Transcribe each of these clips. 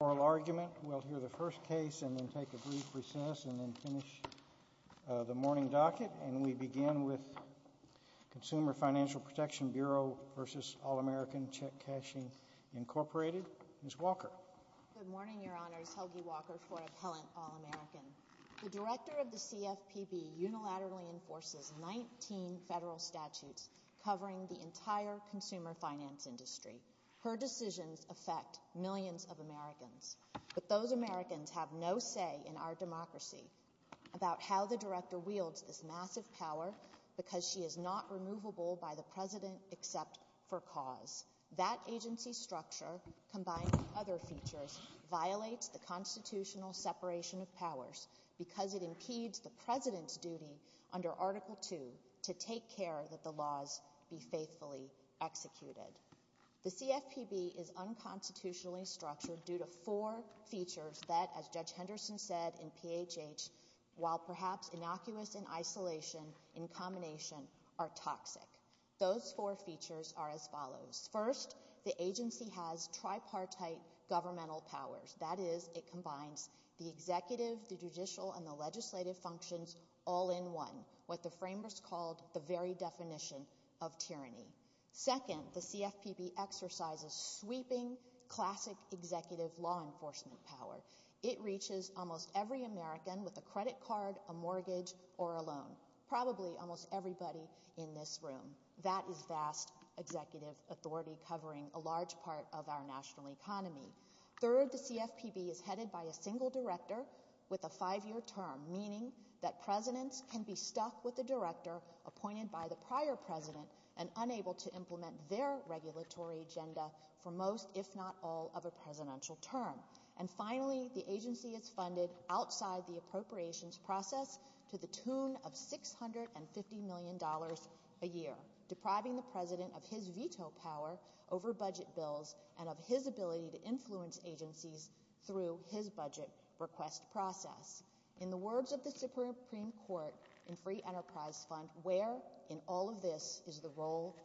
Bureau v. All American Check Cashing Incorporated, Ms. Walker. Good morning, Your Honors. Helgi Walker, Fort Appellant, All American. The Director of the CFPB unilaterally enforces 19 federal statutes covering the entire consumer finance industry. Her decisions affect millions of Americans, but those Americans have no say in our democracy about how the Director wields this massive power because she is not removable by the President except for cause. That agency structure, combined with other features, violates the constitutional separation of powers because it impedes the President's duty under Article 2 to take care that the laws be faithfully executed. The CFPB is unconstitutionally structured due to four features that, as Judge Henderson said in PHH, while perhaps innocuous in isolation, in combination, are toxic. Those four features are as follows. First, the agency has tripartite governmental powers. That is, it combines the executive, the judicial, and the legislative functions all in one, what the framers called the very definition of tyranny. Second, the CFPB exercises sweeping, classic executive law enforcement power. It reaches almost every American with a credit card, a mortgage, or a loan, probably almost everybody in this room. That is vast executive authority covering a large part of our national economy. Third, the CFPB is headed by a single Director with a five-year term, meaning that Presidents can be stuck with a Director appointed by the prior President and unable to implement their regulatory agenda for most, if not all, of a Presidential term. And finally, the agency is funded outside the appropriations process to the tune of $650 million a year, depriving the President of his veto power over budget bills and of his ability to influence agencies through his budget request process. In the words of the Supreme Court in Free Enterprise Fund, where in all of this is the role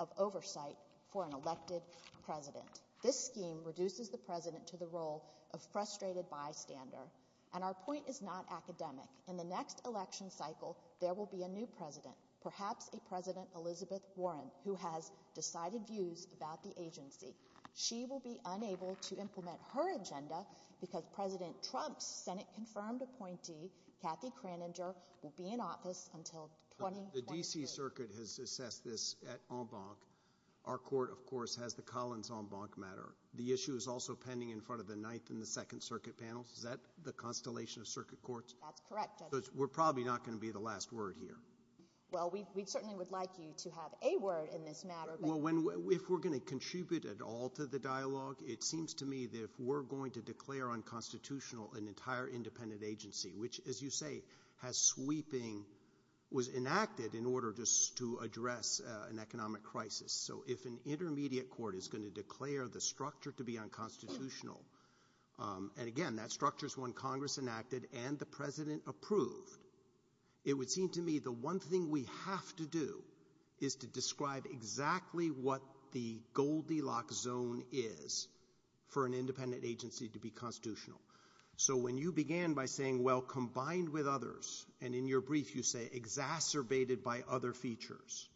of oversight for an elected President? This scheme reduces the President to the role of frustrated bystander. And our point is not academic. In the next election cycle, there will be a new President, perhaps a President Elizabeth Warren, who has decided views about the agency. She will be unable to implement her agenda because President Trump's Senate-confirmed appointee, Kathy Kraninger, will be in office until 2023. The D.C. Circuit has assessed this at en banc. Our Court, of course, has the Collins en banc matter. The issue is also pending in front of the Ninth and the Second Circuit Panels. Is that the Constellation of Circuit Courts? That's correct, Judge. We're probably not going to be the last word here. Well, we certainly would like you to have a word in this matter. Well, if we're going to contribute at all to the dialogue, it seems to me that if we're going to declare unconstitutional an entire independent agency, which, as you say, has sweeping, was enacted in order just to address an economic crisis. So if an intermediate court is going to declare the structure to be unconstitutional, and again, that structure is one Congress enacted and the President approved, it would seem to me the one thing we have to do is to describe exactly what the Goldilocks zone is for an independent agency to be constitutional. So when you began by saying, well, combined with others, and in your brief you say exacerbated by other features,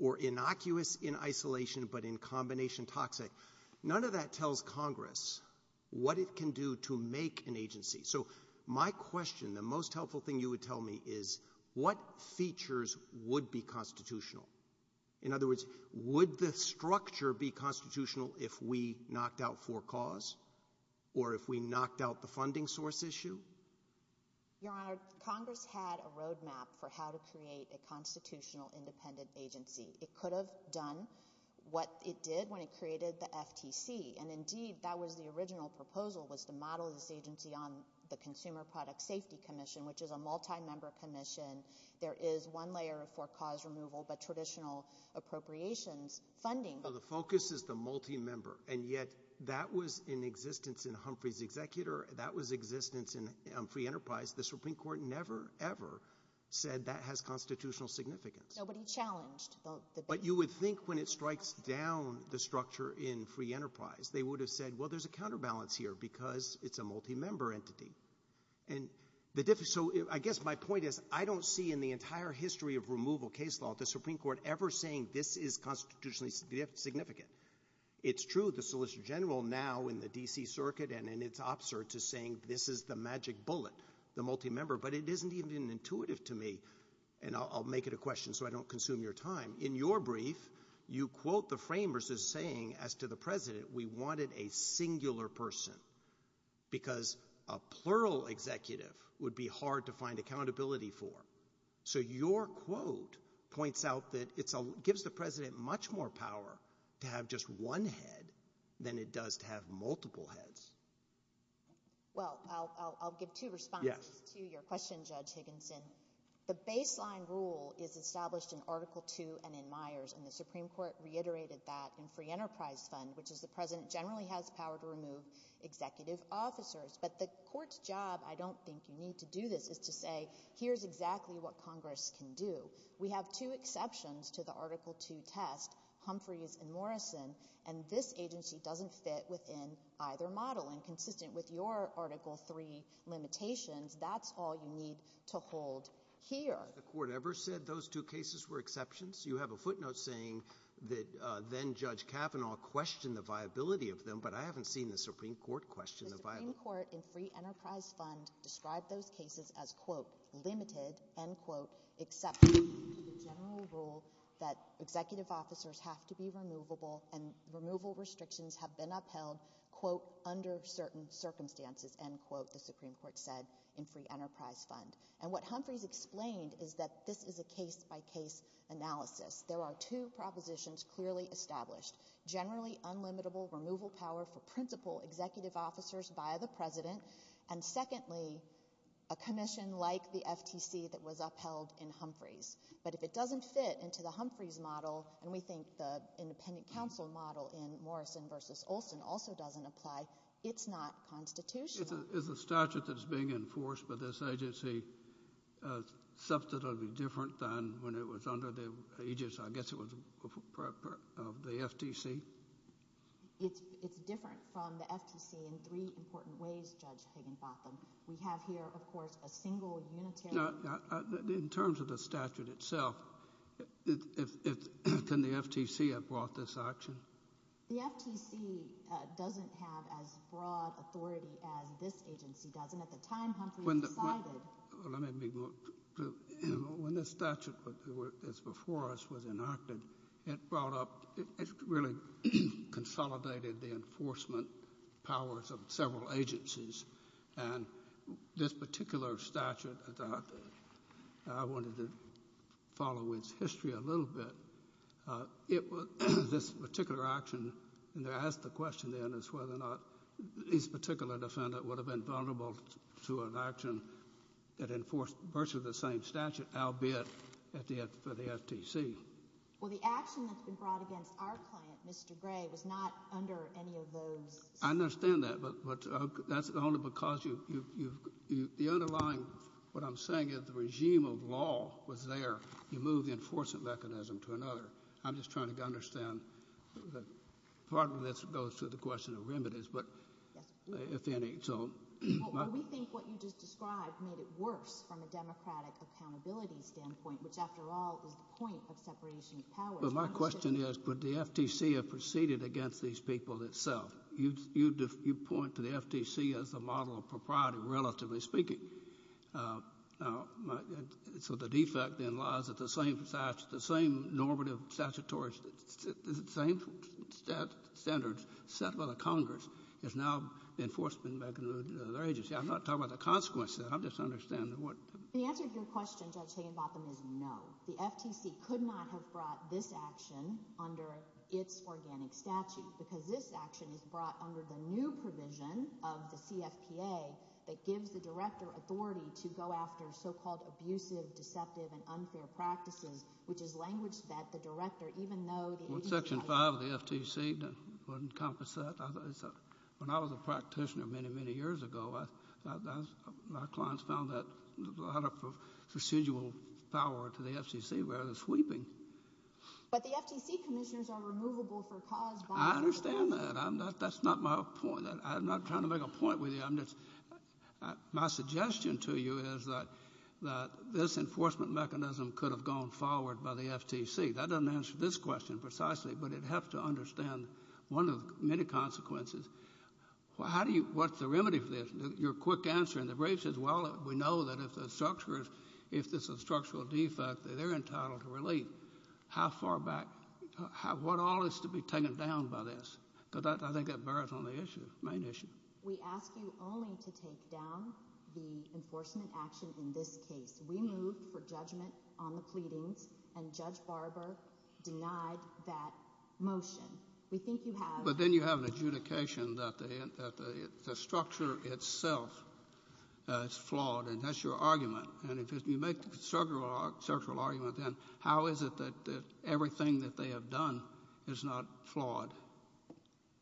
or innocuous in isolation but in combination toxic, none of that tells Congress what it can do to make an agency. So my question, the most helpful thing you would tell me is what features would be constitutional? In other words, would the structure be constitutional if we knocked out for cause or if we knocked out the funding source issue? Your Honor, Congress had a roadmap for how to create a constitutional independent agency. It could have done what it did when it created the FTC. And indeed, that was the original proposal, was to model this agency on the Consumer Product Safety Commission, which is a multi-member commission. There is one layer of for cause removal but traditional appropriations funding. The focus is the multi-member, and yet that was in existence in Humphrey's executor, that was existence in Humphrey Enterprise. The Supreme Court never, ever said that has constitutional significance. Nobody challenged. But you would think when it strikes down the structure in Humphrey Enterprise, they would have said, well, there's a counterbalance here because it's a multi-member entity. So I guess my point is, I don't see in the entire history of removal case law the Supreme Court ever saying this is constitutionally significant. It's true the Solicitor General now in the D.C. Circuit and in its ops search is saying this is the magic bullet, the multi-member, but it isn't even intuitive to me. And I'll make it a question so I don't consume your time. In your brief, you quote the framers as saying, as to the President, we wanted a singular person because a plural executive would be hard to find accountability for. So your quote points out that it gives the President much more power to have just one head than it does to have multiple heads. Well, I'll give two responses to your question, Judge Higginson. The baseline rule is established in Article II and in Myers, and the Supreme Court reiterated that in Free Enterprise Fund, which is the President generally has power to remove executive officers. But the Court's job, I don't think you need to do this, is to say, here's exactly what Congress can do. We have two exceptions to the Article II test, Humphreys and Morrison, and this agency doesn't fit within either model. And consistent with your Article III limitations, that's all you need to hold here. Has the Court ever said those two cases were exceptions? You have a footnote saying that then-Judge Kavanaugh questioned the viability of them, but I haven't seen the Supreme Court question the viability. The Supreme Court in Free Enterprise Fund described those cases as, quote, limited, end quote, except for the general rule that executive officers have to be removable and removal restrictions have been upheld, quote, under certain circumstances, end quote, the Supreme Court said in Free Enterprise Fund. And what Humphreys explained is that this is a case-by-case analysis. There are two propositions clearly established, generally unlimitable removal power for principal executive officers by the President, and secondly, a commission like the FTC that was upheld in Humphreys. But if it doesn't fit into the Humphreys model, and we think the independent counsel model in Morrison v. Olson also doesn't apply, it's not constitutional. Is the statute that's being enforced by this agency substantively different than when it was under the aegis, I guess it was, of the FTC? It's different from the FTC in three important ways, Judge Higginbotham. We have here, of course, a single unitary... In terms of the statute itself, can the FTC have brought this action? The FTC doesn't have as broad authority as this agency does, and at the time Humphreys decided... When the statute that's before us was enacted, it brought up, it really consolidated the I wanted to follow with history a little bit. This particular action, and they asked the question then is whether or not this particular defendant would have been vulnerable to an action that enforced virtually the same statute, albeit for the FTC. Well, the action that's been brought against our client, Mr. Gray, was not under any of those... I understand that, but that's only because the underlying, what I'm saying is the regime of law was there. You move the enforcement mechanism to another. I'm just trying to understand. Part of this goes to the question of remedies, but if any, so... Well, we think what you just described made it worse from a democratic accountability standpoint, which after all is the point of separation of powers. Well, my question is, would the FTC have proceeded against these people itself? You point to the FTC as the model of propriety, relatively speaking. So the defect then lies at the same normative statutory, the same standards set by the Congress is now the enforcement mechanism of their agency. I'm not talking about the consequences. I'm just understanding what... The answer to your question, Judge Higginbotham, is no. The FTC could not have brought this action under its organic statute, because this action is brought under the new provision of the CFPA that gives the director authority to go after so-called abusive, deceptive, and unfair practices, which is language that the director, even though the agency... Well, Section 5 of the FTC wouldn't encompass that. When I was a practitioner many, many years ago, my clients found that a lot of procedural power to the FTC was sweeping. But the FTC commissioners are removable for cause by law. I understand that. That's not my point. I'm not trying to make a point with you. My suggestion to you is that this enforcement mechanism could have gone forward by the FTC. That doesn't answer this question precisely, but it helps to understand one of the many consequences. What's the remedy for this? Your quick answer in the brief says, well, we know that if this is a structural defect, they're entitled to relief. How far back... What all is to be taken down by this? Because I think that bears on the issue, main issue. We ask you only to take down the enforcement action in this case. We moved for judgment on the pleadings, and Judge Barber denied that motion. We think you have... that the structure itself is flawed, and that's your argument. And if you make the structural argument, then how is it that everything that they have done is not flawed?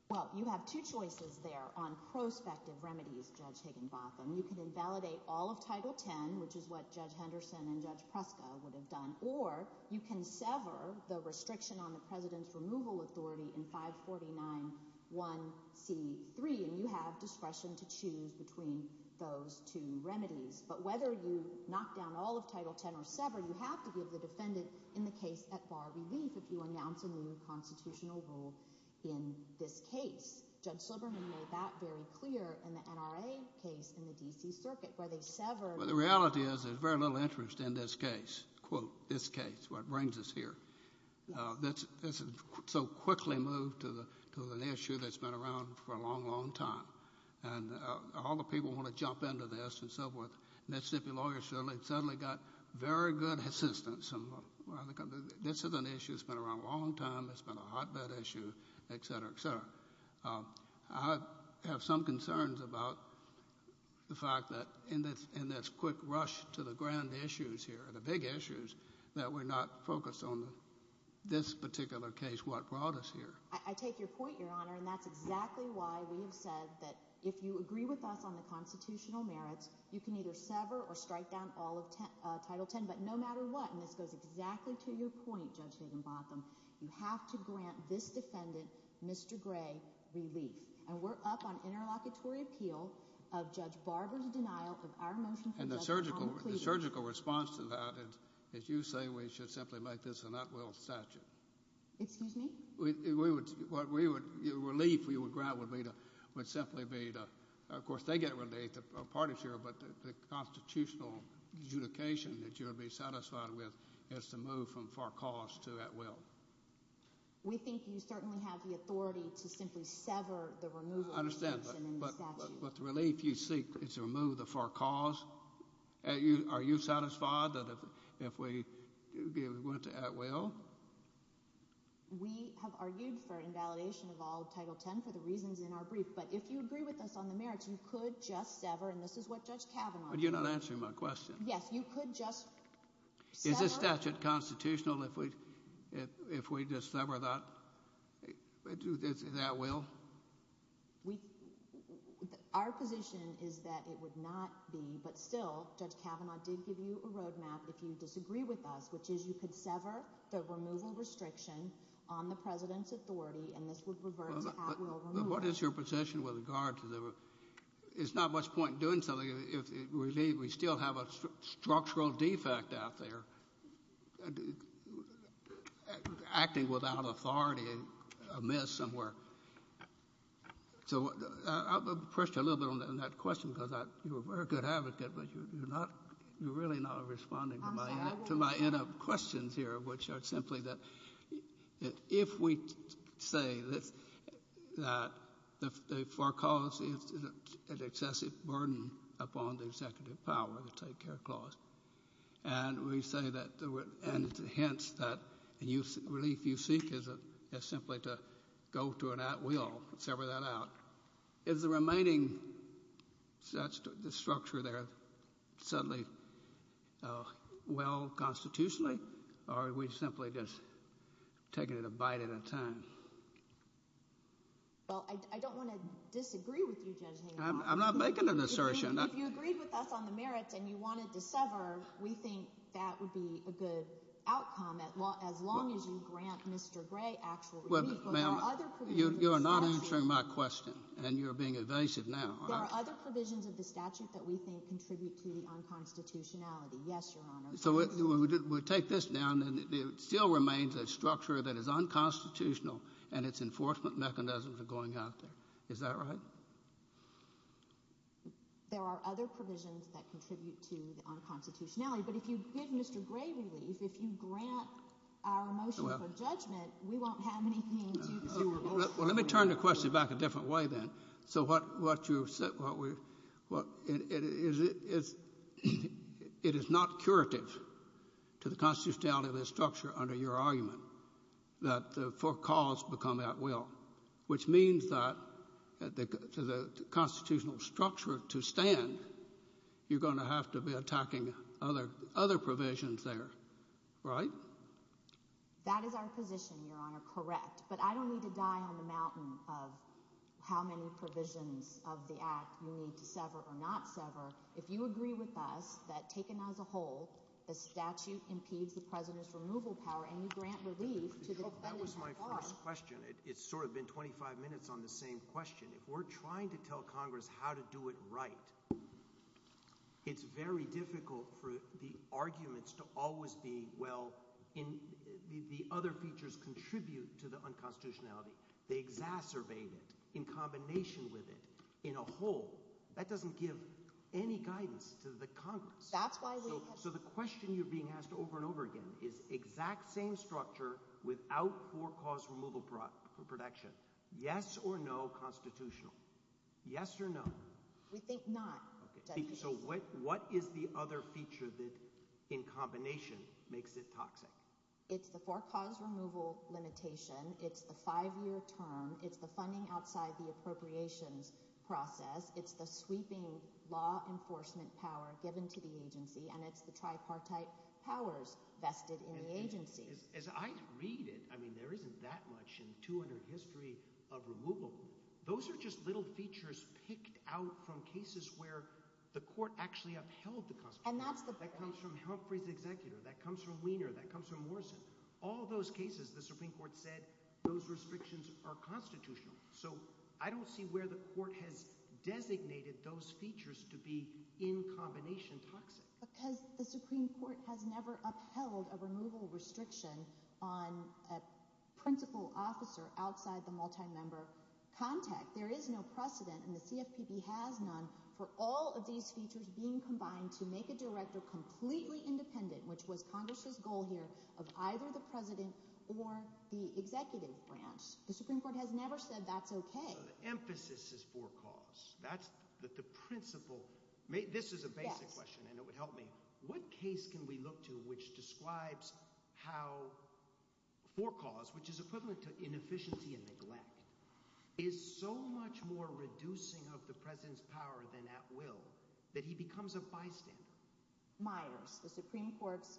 Well, you have two choices there on prospective remedies, Judge Higginbotham. You can invalidate all of Title X, which is what Judge Henderson and Judge Preska would have done, or you can have discretion to choose between those two remedies. But whether you knock down all of Title X or sever, you have to give the defendant in the case at-bar relief if you announce a new constitutional rule in this case. Judge Silberman made that very clear in the NRA case in the D.C. Circuit, where they severed... Well, the reality is there's very little interest in this case, quote, this case, what brings us here. This is so quickly moved to an issue that's been around for a long, long time. And all the people want to jump into this and so forth. Mississippi lawyers suddenly got very good assistance. This is an issue that's been around a long time. It's been a hotbed issue, et cetera, et cetera. I have some concerns about the fact that in this particular case, what brought us here. I take your point, Your Honor, and that's exactly why we have said that if you agree with us on the constitutional merits, you can either sever or strike down all of Title X. But no matter what, and this goes exactly to your point, Judge Higginbotham, you have to grant this defendant, Mr. Gray, relief. And we're up on interlocutory appeal of Judge Barber's denial of our motion... The surgical response to that is you say we should simply make this an at-will statute. Excuse me? We would, what we would, the relief we would grant would be to, would simply be to, of course they get relief, the parties here, but the constitutional adjudication that you would be satisfied with is to move from far cause to at-will. We think you certainly have the authority to simply sever the removal... I understand, but the relief you seek is to remove the far cause? Are you satisfied that if we give it to at-will? We have argued for invalidation of all of Title X for the reasons in our brief, but if you agree with us on the merits, you could just sever, and this is what Judge Kavanaugh... But you're not answering my question. Yes, you could just sever... Is this statute constitutional if we just sever that at-will? We, our position is that it would not be, but still, Judge Kavanaugh did give you a road map if you disagree with us, which is you could sever the removal restriction on the President's authority, and this would revert to at-will removal. What is your position with regard to the, it's not much point in doing something if we leave, we still have a structural defect out there, acting without authority amiss somewhere. So I'll push you a little bit on that question, because you're a very good advocate, but you're not, you're really not responding to my questions here, which are simply that if we say that the far cause is an excessive burden upon the executive power to take care clause, and we say that, and hence that relief you seek is simply to go to an at-will, sever that out. Is the remaining structure there suddenly well constitutionally, or are we simply just taking it a bite at a time? Well, I don't want to disagree with you, Judge Kavanaugh. I'm not making an assertion. If you agreed with us on the merits and you wanted to sever, we think that would be a good outcome, as long as you grant Mr. Gray actual relief. But there are other provisions of the statute. You are not answering my question, and you're being evasive now. There are other provisions of the statute that we think contribute to the unconstitutionality. Yes, Your Honor. So we take this down, and it still remains a structure that is unconstitutional, and its enforcement mechanisms are going out there. Is that right? There are other provisions that contribute to the unconstitutionality, but if you give Mr. Gray relief, if you grant our motion for judgment, we won't have anything to do with it. Well, let me turn the question back a different way, then. So what you said, it is not curative to the constitutionality of this structure under your argument, that for cause become at will, which means that for the constitutional structure to stand, you're going to have to be attacking other provisions there, right? That is our position, Your Honor, correct. But I don't need to die on the mountain of how many provisions of the Act you need to sever or not sever. If you agree with us that, taken as a whole, the statute impedes the President's removal power, and you grant relief to the defendant so far. That was my first question. It's sort of been 25 minutes on the same question. If we're trying to tell Congress how to do it right, it's very difficult for the arguments to always be, well, the other features contribute to the unconstitutionality. They exacerbate it, in combination with it, in a whole. That doesn't give any guidance to the Congress. So the question you're being asked over and over again is exact same structure without for cause removal protection. Yes or no constitutional. Yes or no. We think not. So what is the other feature that, in combination, makes it toxic? It's the for cause removal limitation. It's the five-year term. It's the funding outside the appropriations process. It's the sweeping law enforcement power given to the agency, and it's the tripartite powers vested in the agency. As I read it, I mean, there isn't that much in 200 history of removal. Those are just little features picked out from cases where the court actually upheld the Constitution. And that's the problem. That comes from Humphrey's executor. That comes from Weiner. That comes from Morrison. All those cases, the Supreme Court said, those restrictions are constitutional. So I don't see where the court has designated those features to be, in combination, toxic. Because the Supreme Court has never upheld a removal restriction on a principal officer outside the multi-member contact. There is no precedent, and the CFPB has none, for all of these features being combined to make a director completely independent, which was Congress's goal here, of either the president or the executive branch. The Supreme Court has never said that's okay. So the emphasis is for cause. That's the principle. This is a basic question, and it would help me. What case can we look to which describes how for cause, which is equivalent to inefficiency and neglect, is so much more reducing of the president's power than at will, that he becomes a bystander? Myers. The Supreme Court's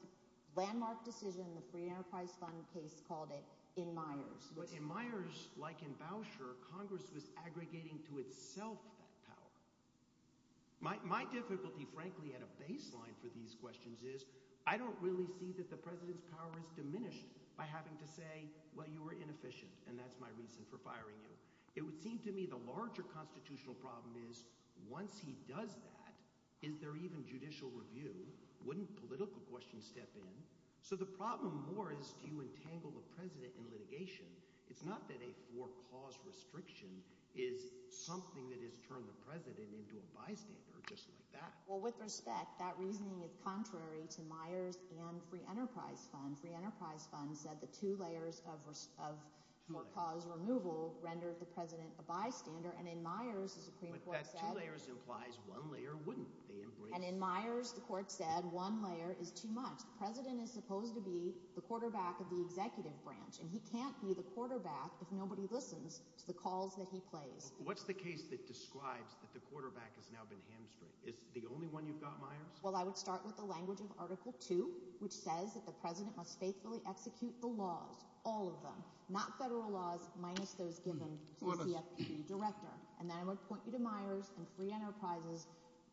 landmark decision, the Free Enterprise Fund case, called it in Myers. But in Myers, like in Bauscher, Congress was aggregating to itself that power. My difficulty, frankly, at a baseline for these questions is, I don't really see that the president's power is diminished by having to say, well, you were inefficient, and that's my reason for firing you. It would seem to me the larger constitutional problem is, once he does that, is there even judicial review? Wouldn't political questions step in? So the problem more is, do you entangle the president in litigation? It's not that a for cause restriction is something that has turned the president into a bystander, just like that. Well, with respect, that reasoning is contrary to Myers and Free Enterprise Fund. Free Enterprise Fund said the two layers of for cause removal rendered the president a bystander. And in Myers, the Supreme Court said— But that two layers implies one layer wouldn't. And in Myers, the court said one layer is too much. The president is supposed to be the quarterback of the executive branch, and he can't be the quarterback if nobody listens to the calls that he plays. What's the case that describes that the quarterback has now been hamstrung? Is it the only one you've got, Myers? Well, I would start with the language of Article 2, which says that the president must faithfully execute the laws, all of them, not federal laws, minus those given to the CFPB director. And then I would point you to Myers and Free Enterprise's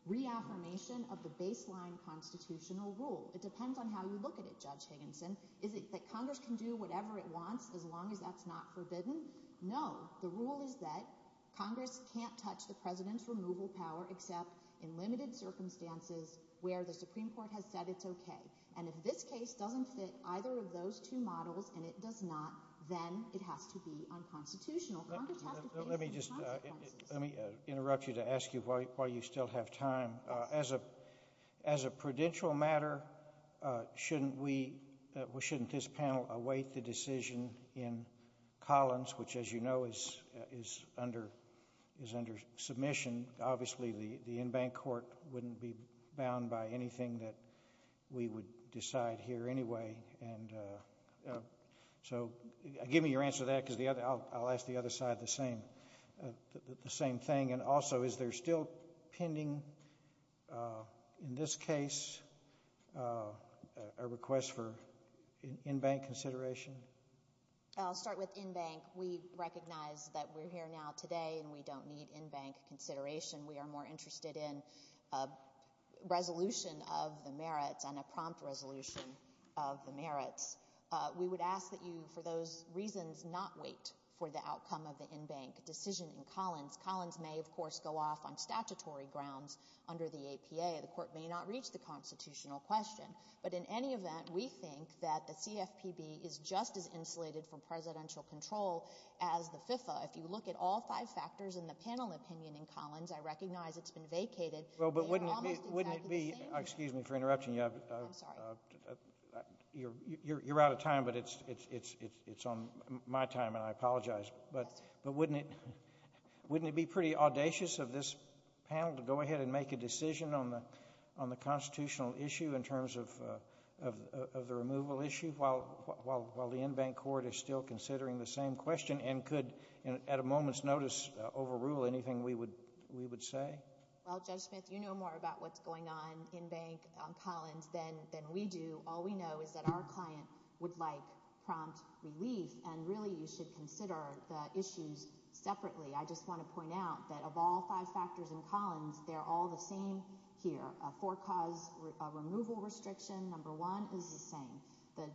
reaffirmation of the baseline constitutional rule. It depends on how you look at it, Judge Higginson. Is it that Congress can do whatever it wants as long as that's not forbidden? No. The rule is that Congress can't touch the president's removal power except in limited circumstances where the Supreme Court has said it's OK. And if this case doesn't fit either of those two models and it does not, then it has to be unconstitutional. Congress has to face the consequences. Let me just—let me interrupt you to ask you why you still have time. As a prudential matter, shouldn't we—shouldn't this panel await the decision in Collins, which, as you know, is under submission? Obviously, the in-bank court wouldn't be bound by anything that we would decide here anyway. And so give me your answer to that because the other—I'll ask the other side the same thing. And also, is there still pending in this case a request for in-bank consideration? I'll start with in-bank. We recognize that we're here now today and we don't need in-bank consideration. We are more interested in a resolution of the merits and a prompt resolution of the merits. We would ask that you, for those reasons, not wait for the outcome of the in-bank decision in Collins. Collins may, of course, go off on statutory grounds under the APA. The court may not reach the constitutional question. But in any event, we think that the CFPB is just as insulated from presidential control as the FIFA. If you look at all five factors in the panel opinion in Collins, I recognize it's been vacated. Well, but wouldn't it be— They are almost exactly the same. Excuse me for interrupting you. You're out of time, but it's on my time and I apologize. But wouldn't it be pretty audacious of this panel to go ahead and make a decision on the constitutional issue in terms of the removal issue while the in-bank court is still considering the same question and could, at a moment's notice, overrule anything we would say? Well, Judge Smith, you know more about what's going on in-bank on Collins than we do. All we know is that our client would like prompt relief. And really, you should consider the issues separately. I just want to point out that of all five factors in Collins, they're all the same here. A four-cause removal restriction, number one, is the same. The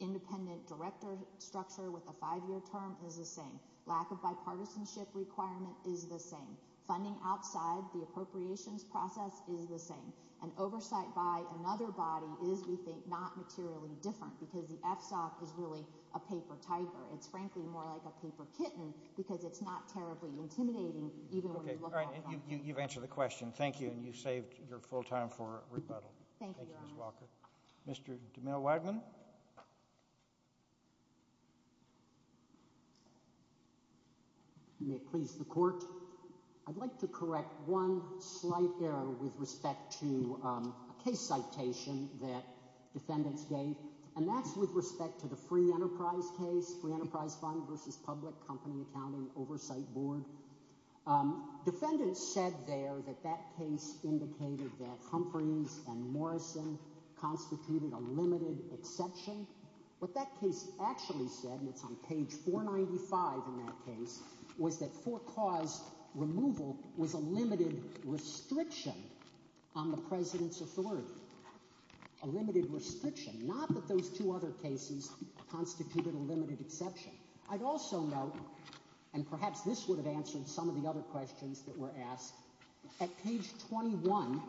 independent director structure with a five-year term is the same. Lack of bipartisanship requirement is the same. Funding outside the appropriations process is the same. And oversight by another body is, we think, not materially different because the FSOC is really a paper-typer. It's frankly more like a paper kitten because it's not terribly intimidating even when you look at it that way. Okay. All right. You've answered the question. Thank you. And you've saved your full time for rebuttal. Thank you, Your Honor. Thank you, Ms. Walker. Mr. DeMille-Wagman? May it please the Court, I'd like to correct one slight error with respect to a case citation that defendants gave, and that's with respect to the Free Enterprise case, Free Enterprise Fund v. Public Company Accounting Oversight Board. Defendants said there that that case indicated that Humphreys and Morrison constituted a limited exception. What that case actually said, and it's on page 495 in that case, was that four-cause removal was a limited restriction on the President's authority. A limited restriction. Not that those two other cases constituted a limited exception. I'd also note, and perhaps this would have answered some of the other questions that were asked, at page 21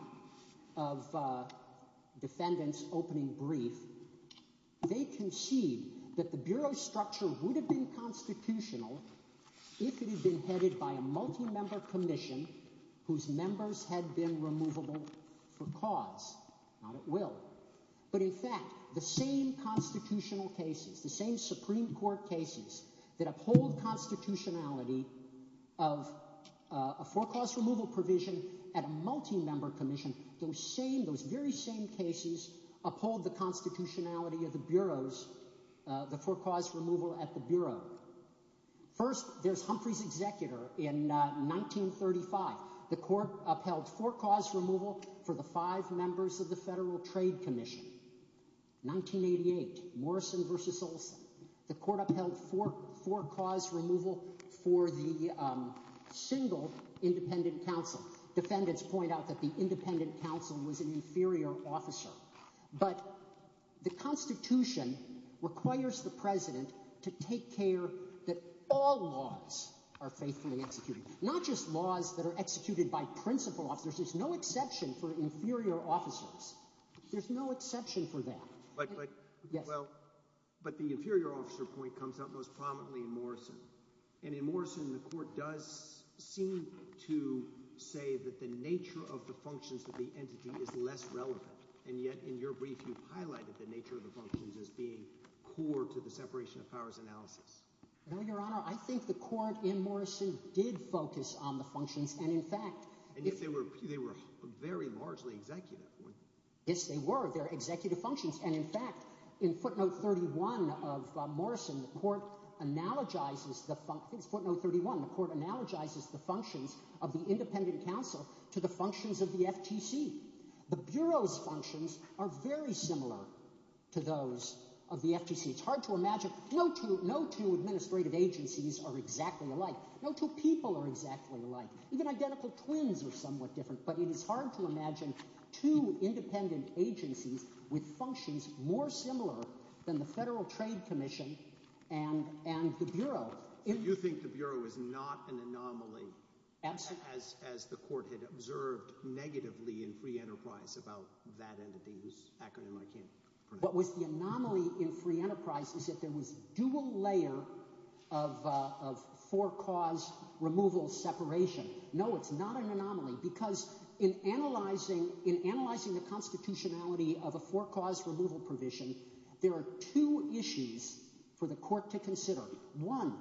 of defendant's opening brief, they concede that the Bureau's structure would have been constitutional if it had been headed by a multi-member commission whose members had been removable for cause. Not at will. But in fact, the same constitutional cases, the same Supreme Court cases that uphold constitutionality of a four-cause removal provision at a multi-member commission, those same, those very same cases uphold the constitutionality of the Bureau's, the four-cause removal at the Bureau. First, there's Humphreys' executor in 1935. The court upheld four-cause removal for the five members of the Federal Trade Commission. 1988, Morrison v. Olson. The court upheld four-cause removal for the single independent counsel. Defendants point out that the independent counsel was an inferior officer. But the Constitution requires the President to take care that all laws are faithfully executed. Not just laws that are executed by principal officers. There's no exception for inferior officers. There's no exception for that. But the inferior officer point comes out most prominently in Morrison. And in Morrison, the court does seem to say that the nature of the functions of the entity is less relevant. And yet, in your brief, you've highlighted the nature of the functions as being core to the separation of powers analysis. No, Your Honor. I think the court in Morrison did focus on the functions. And in fact— And yet they were very largely executive. Yes, they were. They're executive functions. And in fact, in footnote 31 of Morrison, the court analogizes the functions of the independent counsel to the functions of the FTC. The Bureau's functions are very similar to those of the FTC. It's hard to imagine. No two administrative agencies are exactly alike. No two people are exactly alike. Even identical twins are somewhat different. But it is hard to imagine two independent agencies with functions more similar than the Federal Trade Commission and the Bureau. You think the Bureau is not an anomaly as the court had observed negatively in Free Enterprise about that entity whose acronym I can't pronounce. What was the anomaly in Free Enterprise is that there was dual layer of four-cause removal separation. No, it's not an anomaly because in analyzing the constitutionality of a four-cause removal provision, there are two issues for the court to consider. One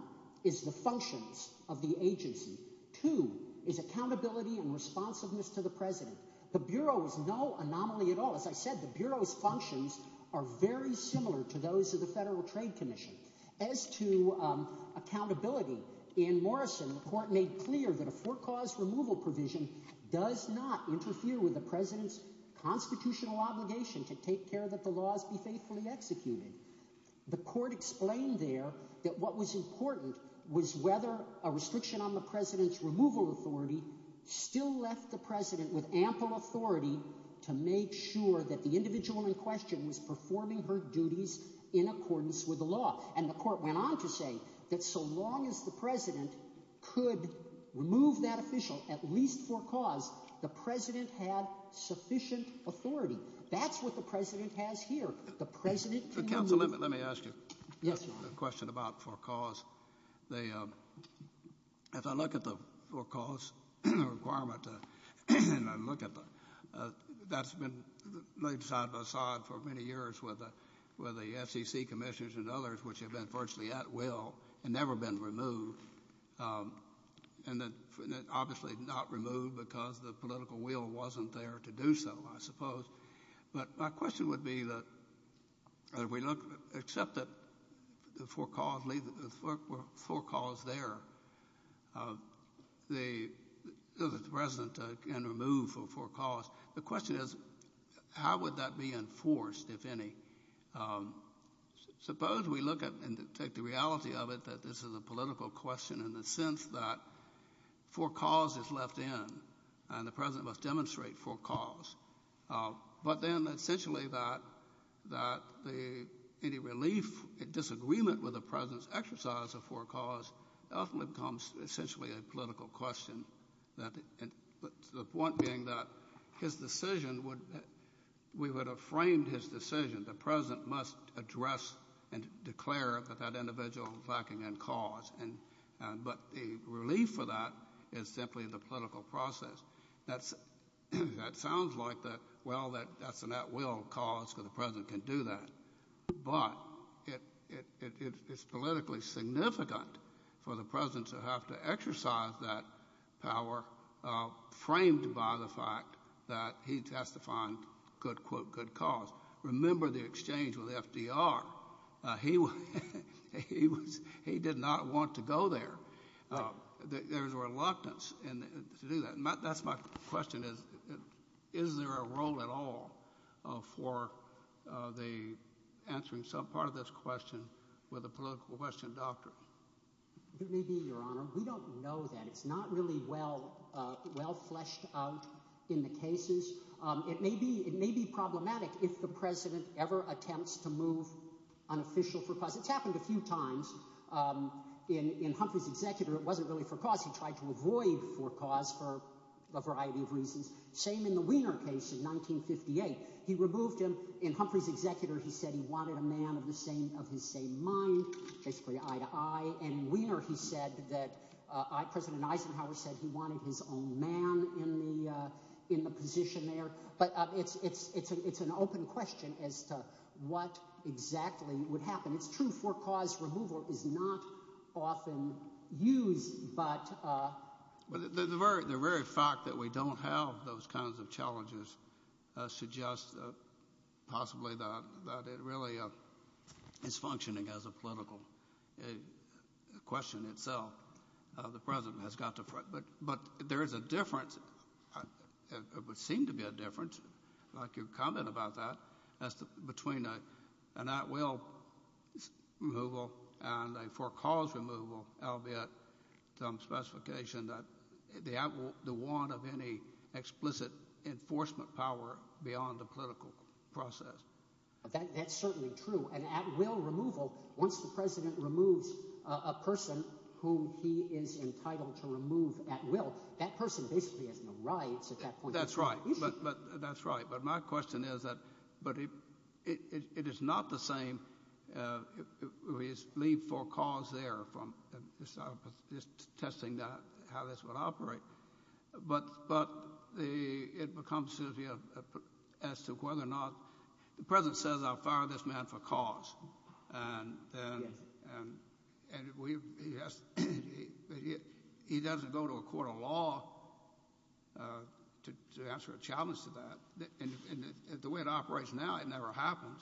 is the functions of the agency. Two is accountability and responsiveness to the president. The Bureau is no anomaly at all. As I said, the Bureau's functions are very similar to those of the Federal Trade Commission. As to accountability, in Morrison, the court made clear that a four-cause removal provision does not interfere with the president's constitutional obligation to take care that the laws be faithfully executed. The court explained there that what was important was whether a restriction on the president's removal authority still left the president with ample authority to make sure that the individual in question was performing her duties in accordance with the law. And the court went on to say that so long as the president could remove that official at least four-cause, the president had sufficient authority. That's what the president has here. The president can remove— Counsel, let me ask you a question about four-cause. If I look at the four-cause requirement and I look at the—that's been laid side-by-side for many years with the SEC commissioners and others, which have been virtually at will and never been removed. And obviously not removed because the political will wasn't there to do so, I suppose. But my question would be that if we look—except that the four-cause there, the president can remove four-cause. The question is how would that be enforced, if any? Suppose we look at and take the reality of it that this is a political question in the sense that four-cause is left in and the president must demonstrate four-cause. But then essentially that any relief, a disagreement with the president's exercise of four-cause ultimately becomes essentially a political question. The point being that his decision would—we would have framed his decision. The president must address and declare that that individual is lacking in cause. But the relief for that is simply the political process. That sounds like, well, that's an at-will cause because the president can do that. But it's politically significant for the president to have to exercise that power framed by the fact that he testified, quote, unquote, good cause. Remember the exchange with FDR. He did not want to go there. There's reluctance to do that. That's my question is, is there a role at all for the answering some part of this question with a political question doctrine? It may be, Your Honor. We don't know that. It's not really well fleshed out in the cases. It may be problematic if the president ever attempts to move unofficial four-cause. It's happened a few times. He tried to avoid four-cause for a variety of reasons. Same in the Wiener case in 1958. He removed him. In Humphrey's executor, he said he wanted a man of the same—of his same mind, basically eye to eye. And Wiener, he said that—President Eisenhower said he wanted his own man in the position there. But it's an open question as to what exactly would happen. And it's true four-cause removal is not often used, but— The very fact that we don't have those kinds of challenges suggests possibly that it really is functioning as a political question itself. The president has got to—but there is a difference. It would seem to be a difference, like your comment about that, between an at-will removal and a four-cause removal, albeit some specification that the want of any explicit enforcement power beyond the political process. That's certainly true. An at-will removal, once the president removes a person whom he is entitled to remove at will, that person basically has no rights at that point in time. That's right. But—that's right. But my question is that—but it is not the same—we leave four cause there from just testing how this would operate. But the—it becomes as to whether or not—the president says, I'll fire this man for cause. Yes. And we—he doesn't go to a court of law to answer a challenge to that. And the way it operates now, it never happens.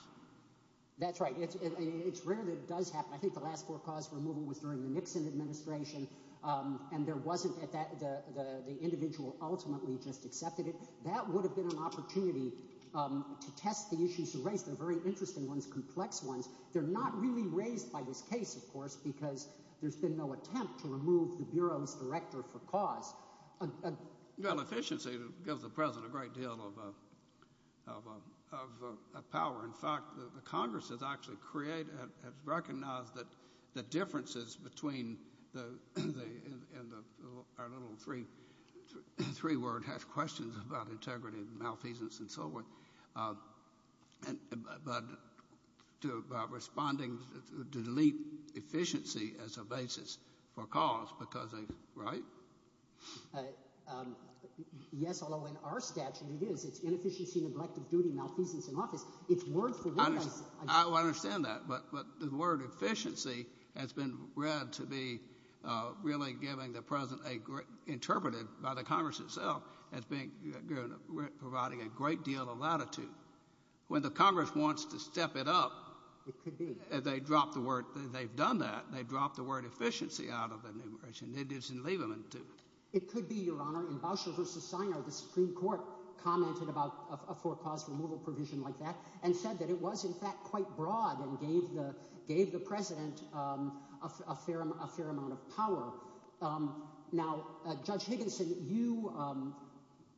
That's right. It's rare that it does happen. I think the last four-cause removal was during the Nixon administration, and there wasn't—the individual ultimately just accepted it. That would have been an opportunity to test the issues raised. They're very interesting ones, complex ones. They're not really raised by this case, of course, because there's been no attempt to remove the Bureau's director for cause. Efficiency gives the president a great deal of power. In fact, the Congress has actually created—has recognized that the differences between the—and our little three-word has questions about integrity and malfeasance and so forth. But responding to delete efficiency as a basis for cause because they—right? Yes, although in our statute it is. It's inefficiency, neglect of duty, malfeasance in office. I understand that, but the word efficiency has been read to be really giving the president a—interpreted by the Congress itself as being—providing a great deal of latitude. When the Congress wants to step it up— It could be. They dropped the word—they've done that. They dropped the word efficiency out of the enumeration. They didn't leave them until— It could be, Your Honor. In Bauscher v. Siner, the Supreme Court commented about a for-cause removal provision like that and said that it was, in fact, quite broad and gave the president a fair amount of power. Now, Judge Higginson, you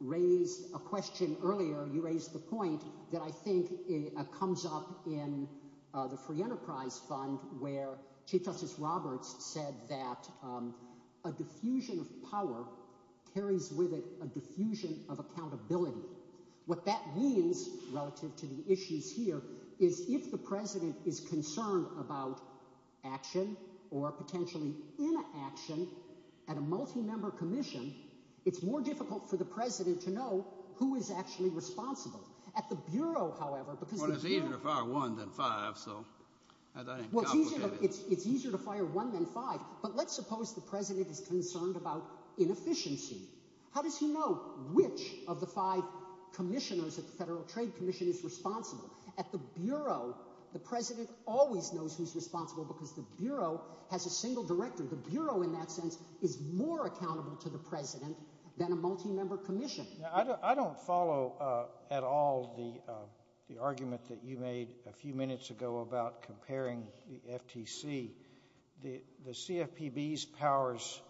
raised a question earlier. You raised the point that I think comes up in the Free Enterprise Fund where Chief Justice Roberts said that a diffusion of power carries with it a diffusion of accountability. What that means relative to the issues here is if the president is concerned about action or potentially inaction at a multi-member commission, it's more difficult for the president to know who is actually responsible. At the Bureau, however, because the Bureau— Well, it's easier to fire one than five, so that ain't complicated. Well, it's easier to fire one than five, but let's suppose the president is concerned about inefficiency. How does he know which of the five commissioners at the Federal Trade Commission is responsible? At the Bureau, the president always knows who's responsible because the Bureau has a single director. The Bureau, in that sense, is more accountable to the president than a multi-member commission. I don't follow at all the argument that you made a few minutes ago about comparing the FTC. The CFPB's powers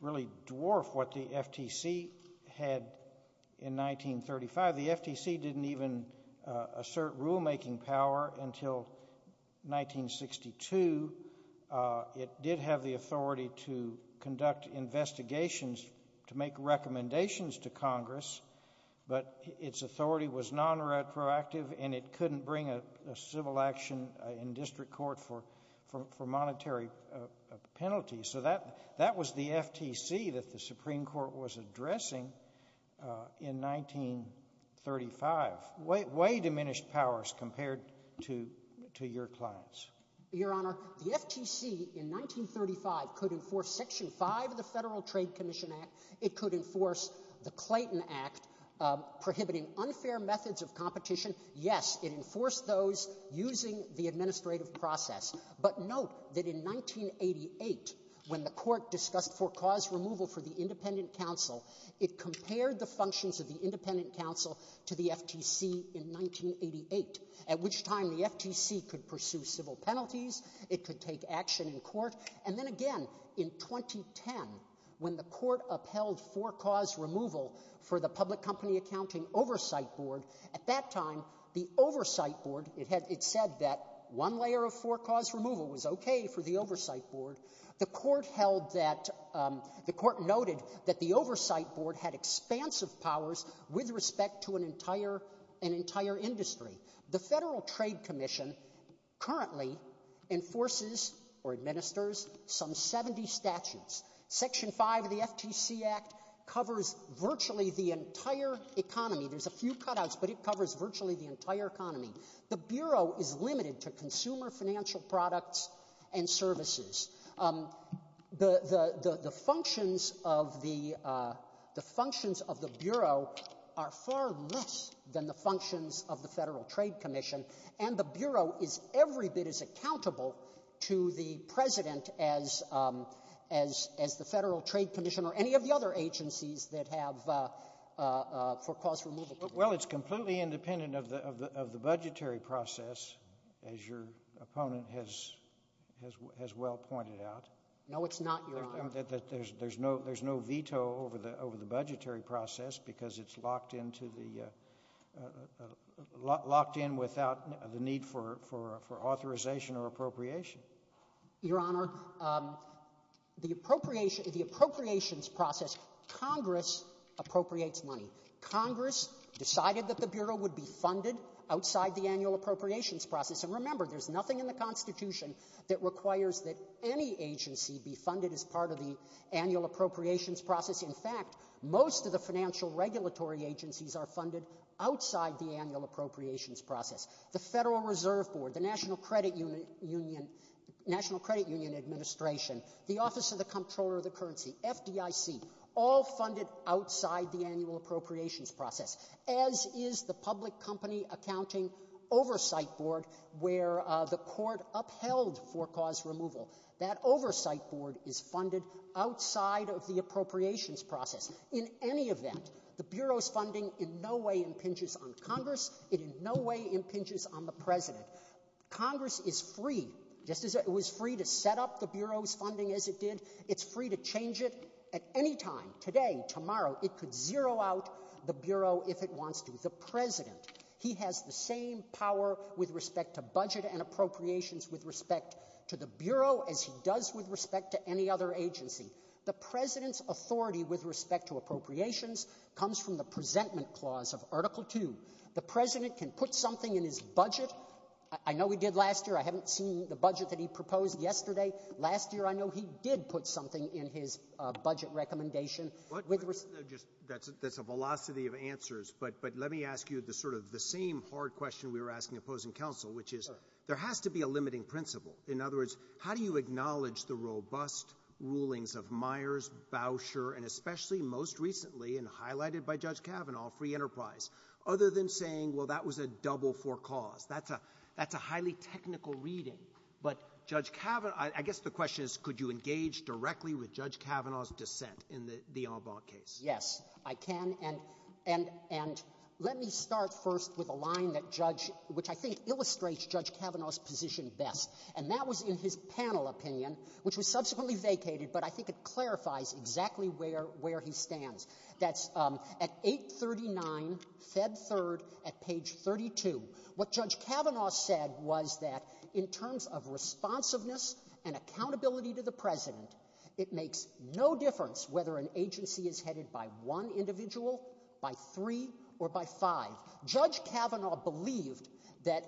really dwarf what the FTC had in 1935. The FTC didn't even assert rulemaking power until 1962. It did have the authority to conduct investigations to make recommendations to Congress, but its authority was non-retroactive, and it couldn't bring a civil action in district court for monetary penalties. So that was the FTC that the Supreme Court was addressing in 1935. Way diminished powers compared to your clients. Your Honor, the FTC in 1935 could enforce Section 5 of the Federal Trade Commission Act. It could enforce the Clayton Act prohibiting unfair methods of competition. Yes, it enforced those using the administrative process. But note that in 1988, when the Court discussed for-cause removal for the Independent Counsel, it compared the functions of the Independent Counsel to the FTC in 1988, at which time the FTC could pursue civil penalties. It could take action in court. And then, again, in 2010, when the Court upheld for-cause removal for the Public Company Accounting Oversight Board, at that time, the Oversight Board, it said that one layer of for-cause removal was okay for the Oversight Board. The Court noted that the Oversight Board had expansive powers with respect to an entire industry. The Federal Trade Commission currently enforces or administers some 70 statutes. Section 5 of the FTC Act covers virtually the entire economy. There's a few cutouts, but it covers virtually the entire economy. The Bureau is limited to consumer financial products and services. The functions of the Bureau are far less than the functions of the Federal Trade Commission. And the Bureau is every bit as accountable to the President as the Federal Trade Commission or any of the other agencies that have for-cause removal. Well, it's completely independent of the budgetary process, as your opponent has well pointed out. No, it's not, Your Honor. There's no veto over the budgetary process because it's locked into the-locked in without the need for authorization or appropriation. Your Honor, the appropriations process, Congress appropriates money. Congress decided that the Bureau would be funded outside the annual appropriations process. And remember, there's nothing in the Constitution that requires that any agency be funded as part of the annual appropriations process. In fact, most of the financial regulatory agencies are funded outside the annual appropriations process. The Federal Reserve Board, the National Credit Union Administration, the Office of the Comptroller of the Currency, FDIC, all funded outside the annual appropriations process. As is the Public Company Accounting Oversight Board, where the court upheld for-cause removal. That oversight board is funded outside of the appropriations process. In any event, the Bureau's funding in no way impinges on Congress. It in no way impinges on the President. Congress is free, just as it was free to set up the Bureau's funding as it did. It's free to change it at any time, today, tomorrow. It could zero out the Bureau if it wants to. The President, he has the same power with respect to budget and appropriations with respect to the Bureau as he does with respect to any other agency. The President's authority with respect to appropriations comes from the Presentment Clause of Article II. The President can put something in his budget. I know he did last year. I haven't seen the budget that he proposed yesterday. Last year, I know he did put something in his budget recommendation. That's a velocity of answers. But let me ask you sort of the same hard question we were asking opposing counsel, which is there has to be a limiting principle. In other words, how do you acknowledge the robust rulings of Myers, Bauscher, and especially most recently and highlighted by Judge Kavanaugh, free enterprise? Other than saying, well, that was a double for cause. That's a highly technical reading. But Judge Kavanaugh, I guess the question is could you engage directly with Judge Kavanaugh's dissent in the En banc case? Yes, I can. And let me start first with a line that Judge, which I think illustrates Judge Kavanaugh's position best. And that was in his panel opinion, which was subsequently vacated, but I think it clarifies exactly where he stands. That's at 839, Feb. 3rd, at page 32. What Judge Kavanaugh said was that in terms of responsiveness and accountability to the President, it makes no difference whether an agency is headed by one individual, by three, or by five. Judge Kavanaugh believed that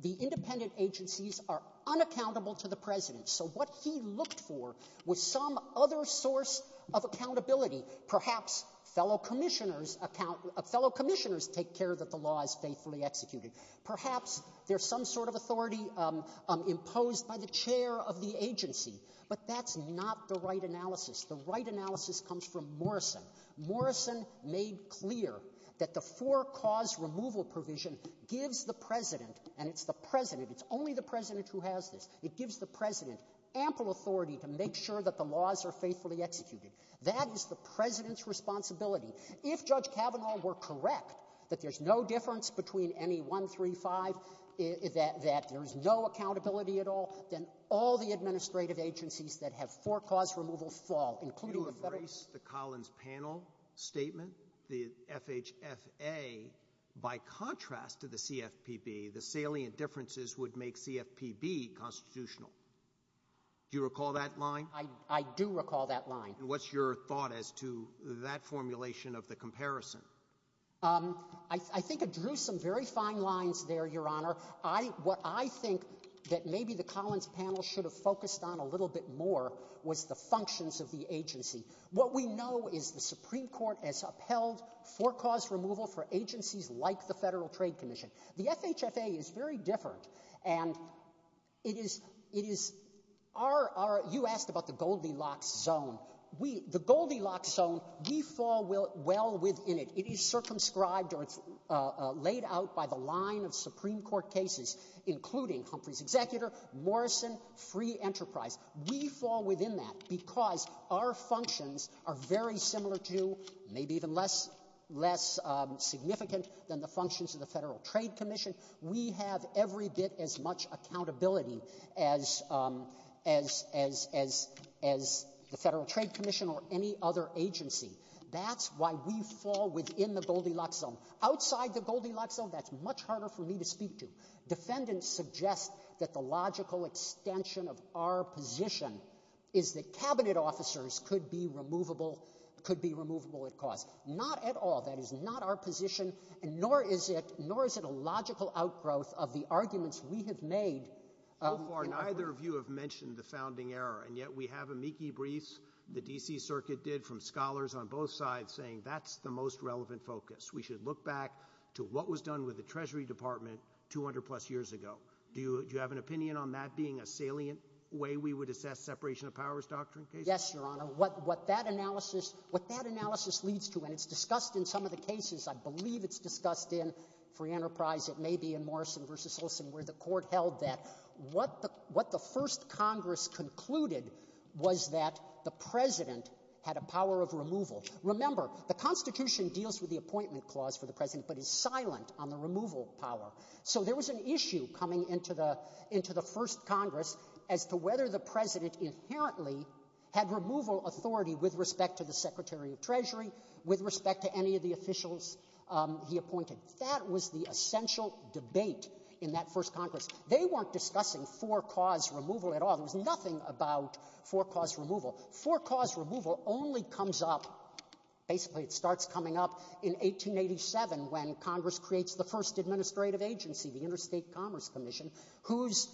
the independent agencies are unaccountable to the President. So what he looked for was some other source of accountability. Perhaps fellow commissioners account — fellow commissioners take care that the law is faithfully executed. Perhaps there's some sort of authority imposed by the chair of the agency. But that's not the right analysis. The right analysis comes from Morrison. Morrison made clear that the four-cause removal provision gives the President — and it's the President. It's only the President who has this. It gives the President ample authority to make sure that the laws are faithfully executed. That is the President's responsibility. If Judge Kavanaugh were correct that there's no difference between any one, three, five, that there's no accountability at all, then all the administrative agencies that have four-cause removal fall, including the Federal — If you rephrase the Collins Panel statement, the FHFA, by contrast to the CFPB, the salient differences would make CFPB constitutional. Do you recall that line? I do recall that line. And what's your thought as to that formulation of the comparison? I think it drew some very fine lines there, Your Honor. What I think that maybe the Collins Panel should have focused on a little bit more was the functions of the agency. What we know is the Supreme Court has upheld four-cause removal for agencies like the Federal Trade Commission. The FHFA is very different. And it is — you asked about the Goldilocks zone. The Goldilocks zone, we fall well within it. It is circumscribed or it's laid out by the line of Supreme Court cases, including Humphrey's executor, Morrison, Free Enterprise. We fall within that because our functions are very similar to, maybe even less significant than the functions of the Federal Trade Commission. We have every bit as much accountability as the Federal Trade Commission or any other agency. That's why we fall within the Goldilocks zone. Outside the Goldilocks zone, that's much harder for me to speak to. Defendants suggest that the logical extension of our position is that Cabinet officers could be removable at cause. Not at all. That is not our position, nor is it a logical outgrowth of the arguments we have made. So far, neither of you have mentioned the founding era, and yet we have amici briefs the D.C. Circuit did from scholars on both sides saying that's the most relevant focus. We should look back to what was done with the Treasury Department 200-plus years ago. Do you have an opinion on that being a salient way we would assess separation of powers doctrine cases? Yes, Your Honor. What that analysis leads to, and it's discussed in some of the cases. I believe it's discussed in Free Enterprise. It may be in Morrison v. Olson where the court held that. What the first Congress concluded was that the President had a power of removal. Remember, the Constitution deals with the appointment clause for the President but is silent on the removal power. So there was an issue coming into the first Congress as to whether the President inherently had removal authority with respect to the Secretary of Treasury, with respect to any of the officials he appointed. That was the essential debate in that first Congress. They weren't discussing for-cause removal at all. There was nothing about for-cause removal. For-cause removal only comes up, basically it starts coming up, in 1887 when Congress creates the first administrative agency, the Interstate Commerce Commission, whose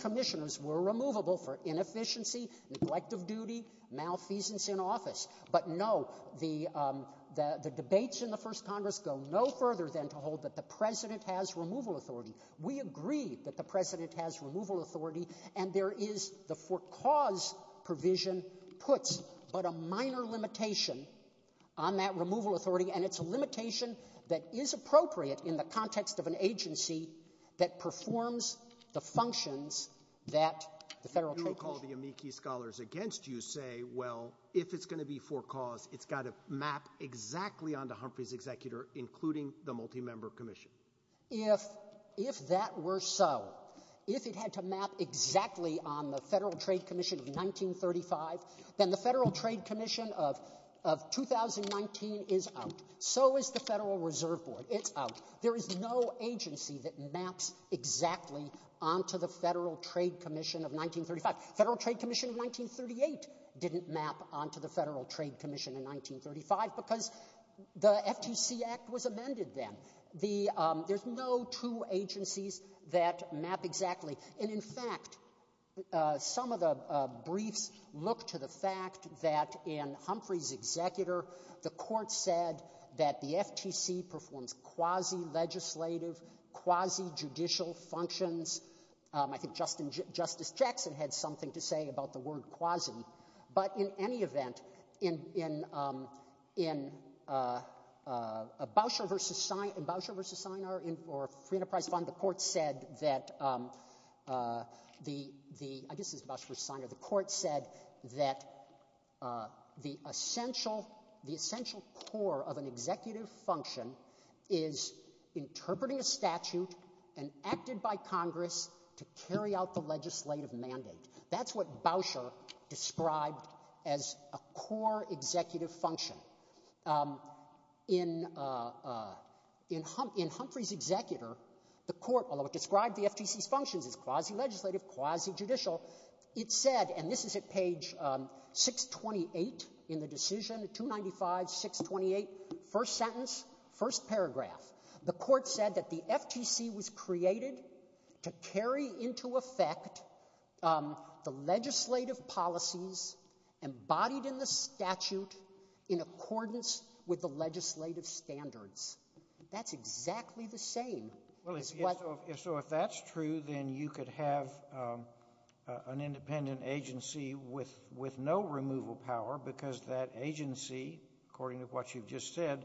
commissioners were removable for inefficiency, neglect of duty, malfeasance in office. But, no, the debates in the first Congress go no further than to hold that the President has removal authority. We agree that the President has removal authority, and there is the for-cause provision puts, but a minor limitation on that removal authority, and it's a limitation that is appropriate in the context of an agency that performs the functions that the federal trade commission. You recall the amici scholars against you say, well, if it's going to be for-cause, it's got to map exactly onto Humphrey's executor, including the multi-member commission. If that were so, if it had to map exactly on the Federal Trade Commission of 1935, then the Federal Trade Commission of 2019 is out. So is the Federal Reserve Board. It's out. There is no agency that maps exactly onto the Federal Trade Commission of 1935. The Federal Trade Commission of 1938 didn't map onto the Federal Trade Commission in 1935 because the FTC Act was amended then. There's no two agencies that map exactly. And in fact, some of the briefs look to the fact that in Humphrey's executor, the court said that the FTC performs quasi-legislative, quasi-judicial functions. I think Justice Jackson had something to say about the word quasi. But in any event, in Bauscher v. Sienar, the court said that the essential core of an executive function is interpreting a statute and acted by Congress to carry out the legislative mandate. That's what Bauscher described as a core executive function. In Humphrey's executor, the court, although it described the FTC's functions as quasi-legislative, quasi-judicial, it said, and this is at page 628 in the decision, 295, 628, first sentence, first paragraph. The court said that the FTC was created to carry into effect the legislative policies embodied in the statute in accordance with the legislative standards. That's exactly the same. Well, so if that's true, then you could have an independent agency with no removal power because that agency, according to what you've just said,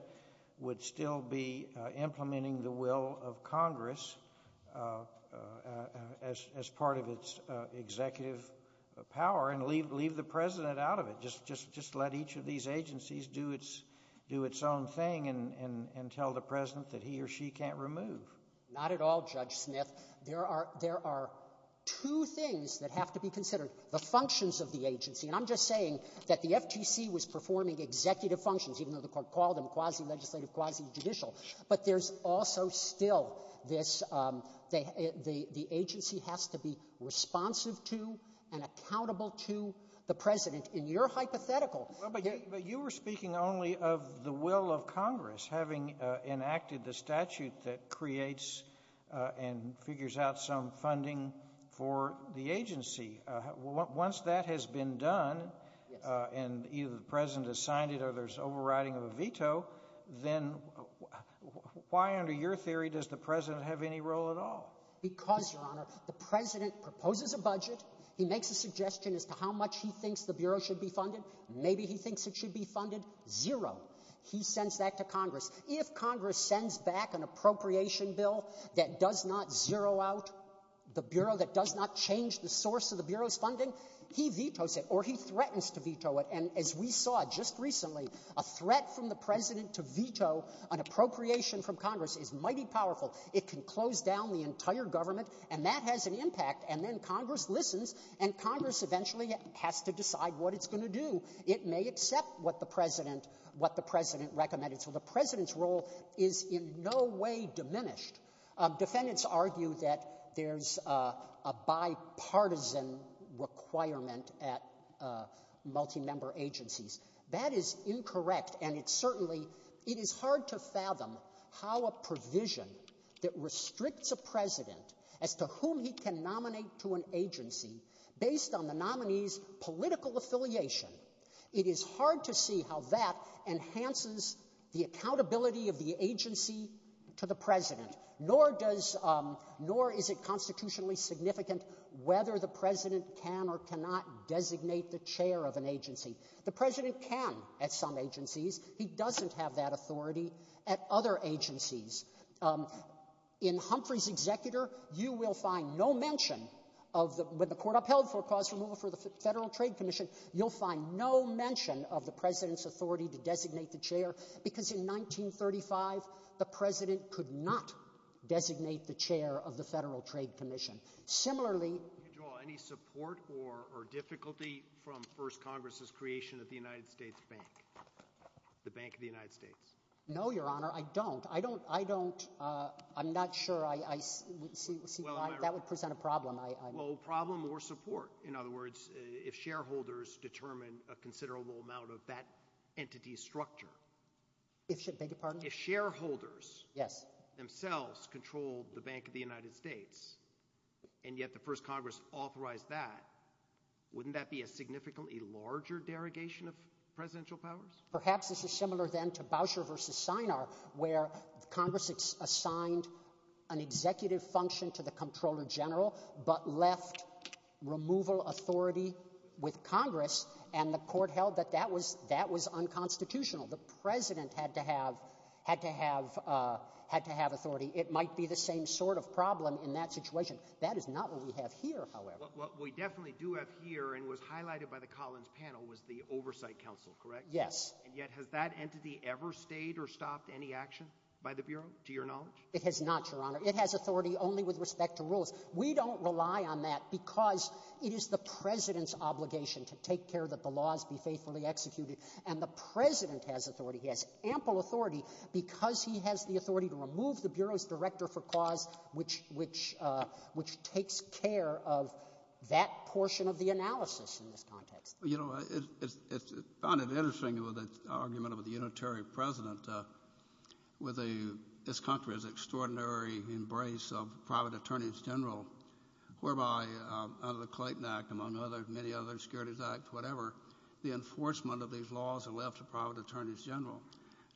would still be implementing the will of Congress as part of its executive power and leave the president out of it. Just let each of these agencies do its own thing and tell the president that he or she can't remove. Not at all, Judge Smith. Well, but you were speaking only of the will of Congress having enacted the statute that creates and feels like the will of Congress. The will of Congress figures out some funding for the agency. Once that has been done and either the president has signed it or there's overriding of a veto, then why under your theory does the president have any role at all? Because, Your Honor, the president proposes a budget. He makes a suggestion as to how much he thinks the bureau should be funded. Maybe he thinks it should be funded. Zero. He sends that to Congress. If Congress sends back an appropriation bill that does not zero out the bureau, that does not change the source of the bureau's funding, he vetoes it or he threatens to veto it. And as we saw just recently, a threat from the president to veto an appropriation from Congress is mighty powerful. It can close down the entire government, and that has an impact. And then Congress listens, and Congress eventually has to decide what it's going to do. It may accept what the president recommended. So the president's role is in no way diminished. Defendants argue that there's a bipartisan requirement at multi-member agencies. That is incorrect, and it's certainly hard to fathom how a provision that restricts a president as to whom he can nominate to an agency based on the nominee's political affiliation, it is hard to see how that enhances the accountability of the agency to the president. Nor is it constitutionally significant whether the president can or cannot designate the chair of an agency. The president can at some agencies. He doesn't have that authority at other agencies. In Humphrey's executor, you will find no mention of the president's authority to designate the chair. Because in 1935, the president could not designate the chair of the Federal Trade Commission. Can you draw any support or difficulty from First Congress's creation of the United States Bank, the Bank of the United States? No, Your Honor. I don't. I don't. I'm not sure. That would present a problem. Well, problem or support. In other words, if shareholders determine a considerable amount of that entity's structure. If shareholders themselves control the Bank of the United States, and yet the First Congress authorized that, wouldn't that be a significantly larger derogation of presidential powers? Perhaps this is similar then to Boucher versus Sinar, where Congress assigned an executive function to the Comptroller General, but left removal authority with Congress, and the court held that that was unconstitutional. The president had to have authority. It might be the same sort of problem in that situation. That is not what we have here, however. What we definitely do have here and was highlighted by the Collins panel was the Oversight Council, correct? Yes. And yet has that entity ever stayed or stopped any action by the Bureau, to your knowledge? It has not, Your Honor. It has authority only with respect to rules. We don't rely on that because it is the president's obligation to take care that the laws be faithfully executed, and the president has authority. He has ample authority because he has the authority to remove the Bureau's director for cause, which takes care of that portion of the analysis in this context. You know, I found it interesting with the argument of the unitary president with this country's extraordinary embrace of private attorneys general, whereby under the Clayton Act, among many other securities acts, whatever, the enforcement of these laws are left to private attorneys general.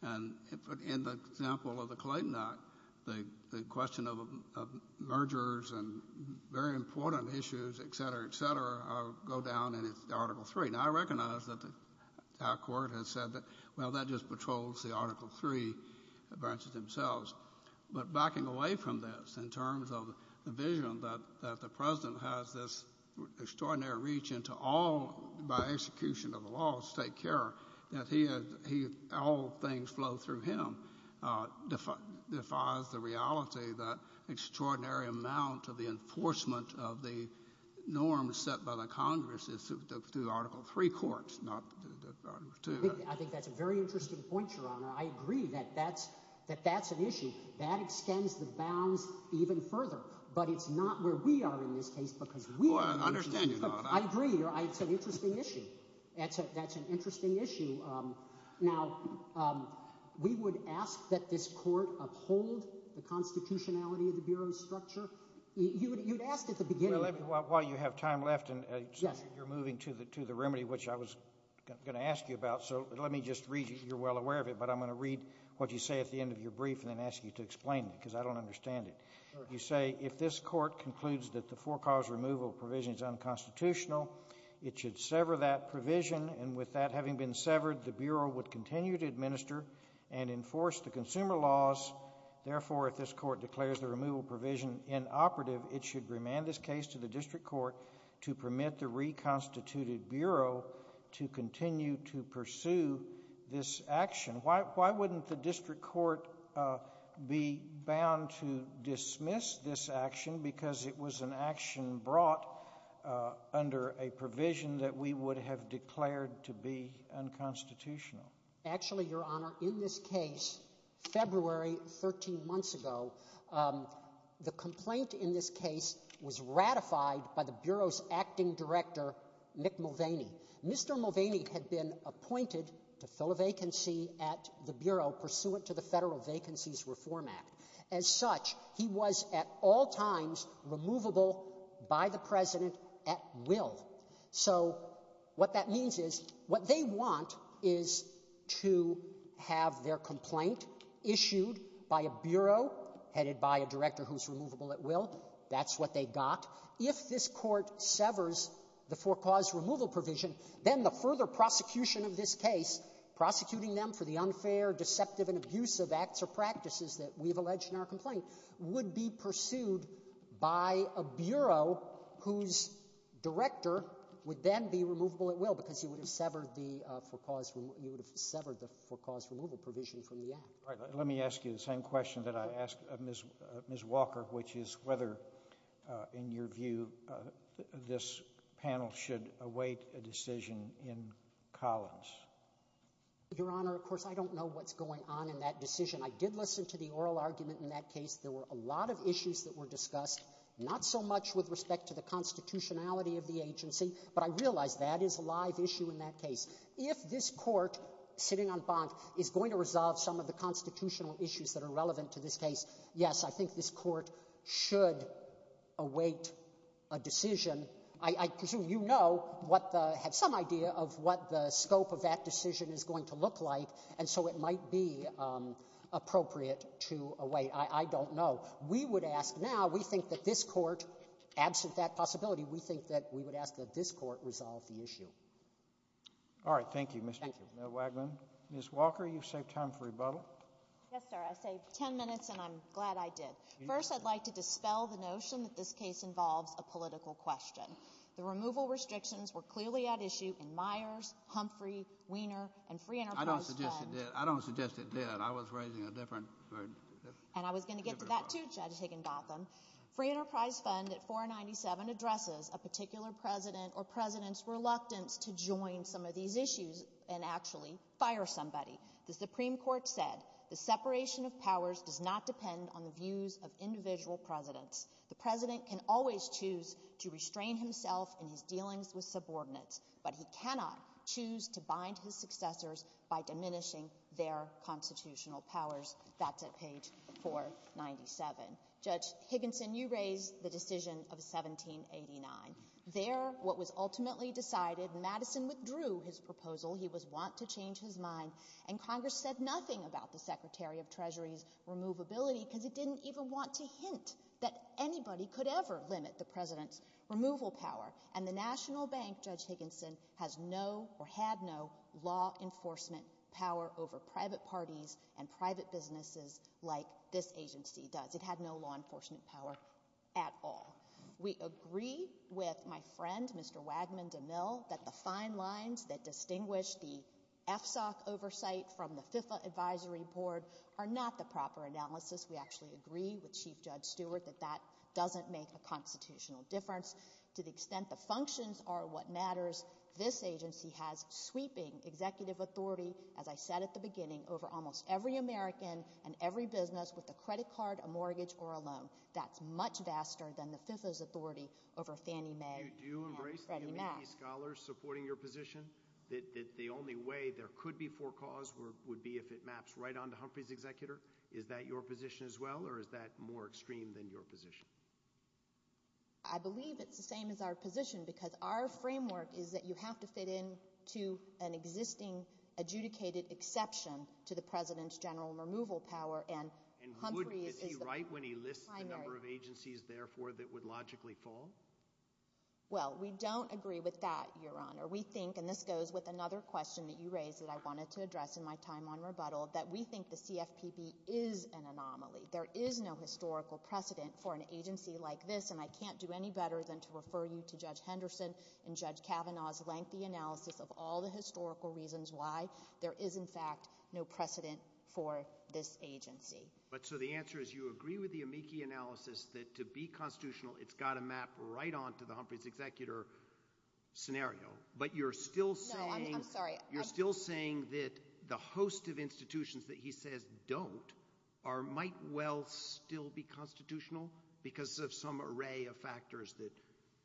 And in the example of the Clayton Act, the question of mergers and very important issues, et cetera, et cetera, go down in Article III. Now, I recognize that our court has said that, well, that just patrols the Article III branches themselves. But backing away from this in terms of the vision that the president has this extraordinary reach into all, by execution of the laws, take care that all things flow through him defies the reality that extraordinary amount of the enforcement of the norms set by the Congress is through Article III courts, not Article II. I think that's a very interesting point, Your Honor. I agree that that's an issue. That extends the bounds even further. But it's not where we are in this case because we— Well, I understand you, Your Honor. I agree. It's an interesting issue. That's an interesting issue. Now, we would ask that this court uphold the constitutionality of the Bureau's structure. You had asked at the beginning— Well, while you have time left and you're moving to the remedy, which I was going to ask you about, so let me just read—you're well aware of it, but I'm going to read what you say at the end of your brief and then ask you to explain it because I don't understand it. You say, if this court concludes that the for-cause removal provision is unconstitutional, it should sever that provision, and with that having been severed, the Bureau would continue to administer and enforce the consumer laws. Therefore, if this court declares the removal provision inoperative, it should remand this case to the district court to permit the reconstituted Bureau to continue to pursue this action. Why wouldn't the district court be bound to dismiss this action because it was an action brought under a provision that we would have declared to be unconstitutional? Actually, Your Honor, in this case, February 13 months ago, the complaint in this case was ratified by the Bureau's acting director, Mick Mulvaney. Mr. Mulvaney had been appointed to fill a vacancy at the Bureau pursuant to the Federal Vacancies Reform Act. As such, he was at all times removable by the President at will. So what that means is what they want is to have their complaint issued by a Bureau headed by a director who's removable at will. That's what they got. If this court severs the for-cause removal provision, then the further prosecution of this case, prosecuting them for the unfair, deceptive, and abusive acts or practices that we've alleged in our complaint, would be pursued by a Bureau whose director would then be removable at will because he would have severed the for-cause removal provision from the act. Let me ask you the same question that I asked Ms. Walker, which is whether, in your view, this panel should await a decision in Collins. Your Honor, of course, I don't know what's going on in that decision. I did listen to the oral argument in that case. There were a lot of issues that were discussed, not so much with respect to the constitutionality of the agency, but I realize that is a live issue in that case. If this court sitting on bonk is going to resolve some of the constitutional issues that are relevant to this case, yes, I think this court should await a decision. I presume you know, have some idea of what the scope of that decision is going to look like, and so it might be appropriate to await. I don't know. We would ask now, we think that this court, absent that possibility, we think that we would ask that this court resolve the issue. All right. Thank you, Mr. Wagman. Ms. Walker, you've saved time for rebuttal. Yes, sir. I saved 10 minutes, and I'm glad I did. First, I'd like to dispel the notion that this case involves a political question. The removal restrictions were clearly at issue in Myers, Humphrey, Weiner, and Free Enterprise Fund. I don't suggest it did. I don't suggest it did. I was raising a different – And I was going to get to that too, Judge Higginbotham. Free Enterprise Fund at 497 addresses a particular president or president's reluctance to join some of these issues and actually fire somebody. The Supreme Court said the separation of powers does not depend on the views of individual presidents. The president can always choose to restrain himself in his dealings with subordinates, but he cannot choose to bind his successors by diminishing their constitutional powers. That's at page 497. Judge Higginson, you raised the decision of 1789. There, what was ultimately decided, Madison withdrew his proposal. He was wont to change his mind. And Congress said nothing about the Secretary of Treasury's removability because it didn't even want to hint that anybody could ever limit the president's removal power. And the National Bank, Judge Higginson, has no or had no law enforcement power over private parties and private businesses like this agency does. It had no law enforcement power at all. We agree with my friend, Mr. Wagman DeMille, that the fine lines that distinguish the FSOC oversight from the FIFA Advisory Board are not the proper analysis. We actually agree with Chief Judge Stewart that that doesn't make a constitutional difference. To the extent the functions are what matters, this agency has sweeping executive authority, as I said at the beginning, over almost every American and every business that goes with a credit card, a mortgage, or a loan. That's much vaster than the FIFA's authority over Fannie Mae and Freddie Mac. Do you embrace the UMBC scholars supporting your position, that the only way there could be for cause would be if it maps right onto Humphrey's executor? Is that your position as well, or is that more extreme than your position? I believe it's the same as our position because our framework is that you have to fit in to an existing adjudicated exception to the president's general removal power. And would it be right when he lists the number of agencies, therefore, that would logically fall? Well, we don't agree with that, Your Honor. We think, and this goes with another question that you raised that I wanted to address in my time on rebuttal, that we think the CFPB is an anomaly. There is no historical precedent for an agency like this, and I can't do any better than to refer you to Judge Henderson and Judge Kavanaugh's lengthy analysis of all the historical reasons why there is, in fact, no precedent for this agency. But so the answer is you agree with the amici analysis that to be constitutional, it's got to map right onto the Humphrey's executor scenario, but you're still saying that the host of institutions that he says don't might well still be constitutional because of some array of factors?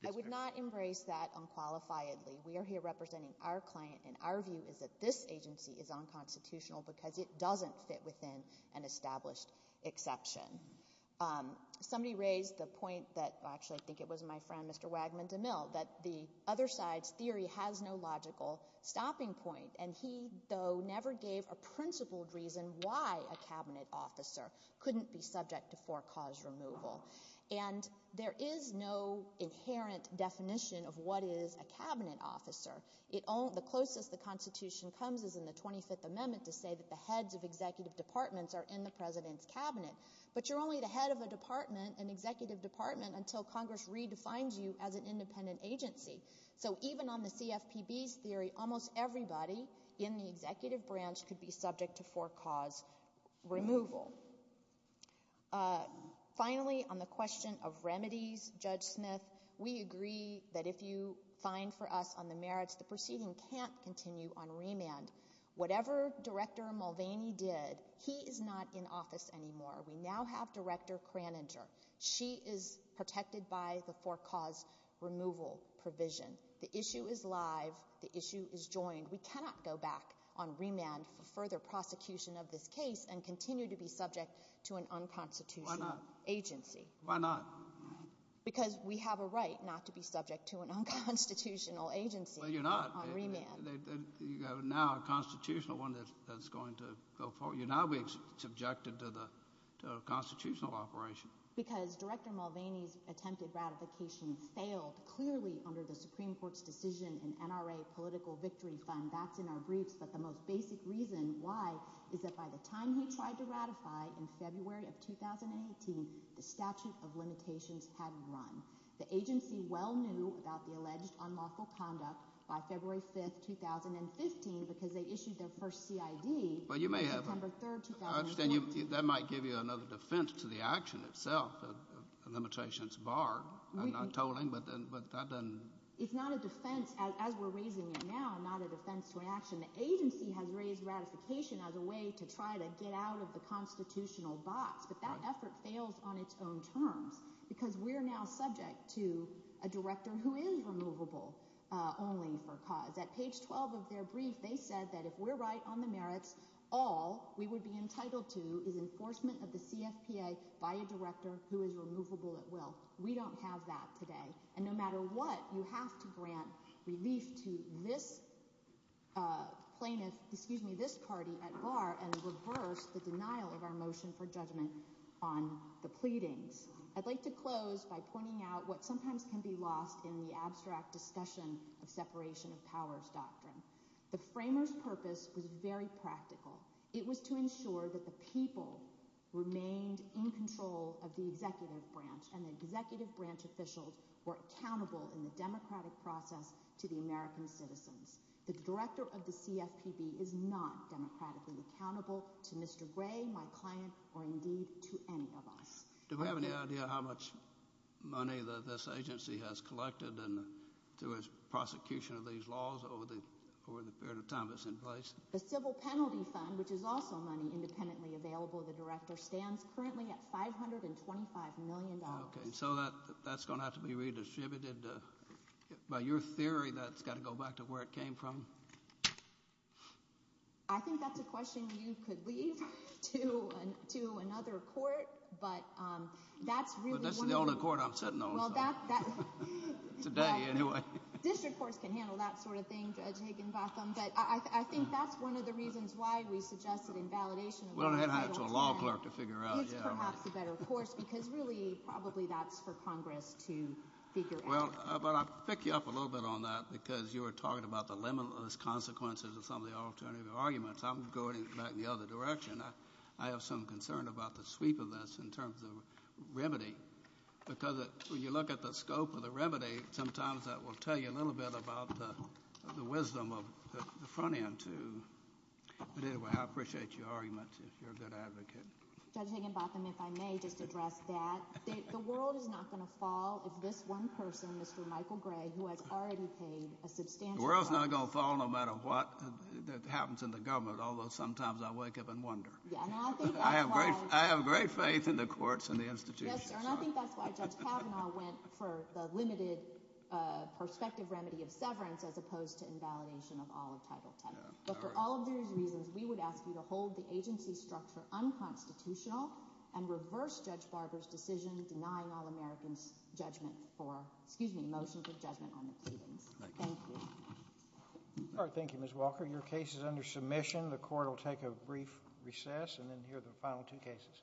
I would not embrace that unqualifiedly. We are here representing our client, and our view is that this agency is unconstitutional because it doesn't fit within an established exception. Somebody raised the point that actually I think it was my friend, Mr. Wagman-DeMille, that the other side's theory has no logical stopping point, and he, though, never gave a principled reason why a Cabinet officer couldn't be subject to for-cause removal. And there is no inherent definition of what is a Cabinet officer. The closest the Constitution comes is in the 25th Amendment to say that the heads of executive departments are in the President's Cabinet. But you're only the head of a department, an executive department, until Congress redefines you as an independent agency. So even on the CFPB's theory, almost everybody in the executive branch could be subject to for-cause removal. Finally, on the question of remedies, Judge Smith, we agree that if you find for us on the merits, the proceeding can't continue on remand. Whatever Director Mulvaney did, he is not in office anymore. We now have Director Kraninger. She is protected by the for-cause removal provision. The issue is live. The issue is joined. We cannot go back on remand for further prosecution of this case and continue to be subject to an unconstitutional agency. Why not? Because we have a right not to be subject to an unconstitutional agency. Well, you're not. On remand. You have now a constitutional one that's going to go forward. You're now being subjected to the constitutional operation. Because Director Mulvaney's attempted ratification failed, clearly, under the Supreme Court's decision in NRA Political Victory Fund. That's in our briefs. But the most basic reason why is that by the time he tried to ratify in February of 2018, the statute of limitations had run. The agency well knew about the alleged unlawful conduct by February 5, 2015, because they issued their first CID. I understand that might give you another defense to the action itself, the limitations barred. I'm not tolling, but that doesn't— It's not a defense, as we're raising it now, not a defense to an action. The agency has raised ratification as a way to try to get out of the constitutional box. But that effort fails on its own terms because we're now subject to a director who is removable only for cause. At page 12 of their brief, they said that if we're right on the merits, all we would be entitled to is enforcement of the CFPA by a director who is removable at will. We don't have that today. And no matter what, you have to grant relief to this plaintiff—excuse me, this party at bar and reverse the denial of our motion for judgment on the pleadings. I'd like to close by pointing out what sometimes can be lost in the abstract discussion of separation of powers doctrine. The framers' purpose was very practical. It was to ensure that the people remained in control of the executive branch and the executive branch officials were accountable in the democratic process to the American citizens. The director of the CFPB is not democratically accountable to Mr. Gray, my client, or indeed to any of us. Do we have any idea how much money this agency has collected through its prosecution of these laws over the period of time it's in place? The civil penalty fund, which is also money independently available to the director, stands currently at $525 million. Okay, so that's going to have to be redistributed. By your theory, that's got to go back to where it came from? I think that's a question you could leave to another court, but that's really— But that's the only court I'm sitting on. Well, that— Today, anyway. District courts can handle that sort of thing, Judge Higginbotham. But I think that's one of the reasons why we suggested invalidation of— We'll have to head out to a law clerk to figure out, yeah. —is perhaps a better course because really probably that's for Congress to figure out. Well, but I'll pick you up a little bit on that because you were talking about the limitless consequences of some of the alternative arguments. I'm going back in the other direction. I have some concern about the sweep of this in terms of remedy because when you look at the scope of the remedy, sometimes that will tell you a little bit about the wisdom of the front end, too. But anyway, I appreciate your argument if you're a good advocate. Judge Higginbotham, if I may just address that. The world is not going to fall if this one person, Mr. Michael Gray, who has already paid a substantial price— The world is not going to fall no matter what that happens in the government, although sometimes I wake up and wonder. Yeah, and I think that's why— I have great faith in the courts and the institutions. Yes, sir, and I think that's why Judge Kavanaugh went for the limited perspective remedy of severance as opposed to invalidation of all of Title X. But for all of these reasons, we would ask you to hold the agency structure unconstitutional and reverse Judge Barber's decision denying all Americans judgment for—excuse me, motion for judgment on the proceedings. Thank you. All right, thank you, Ms. Walker. Your case is under submission. The court will take a brief recess and then hear the final two cases.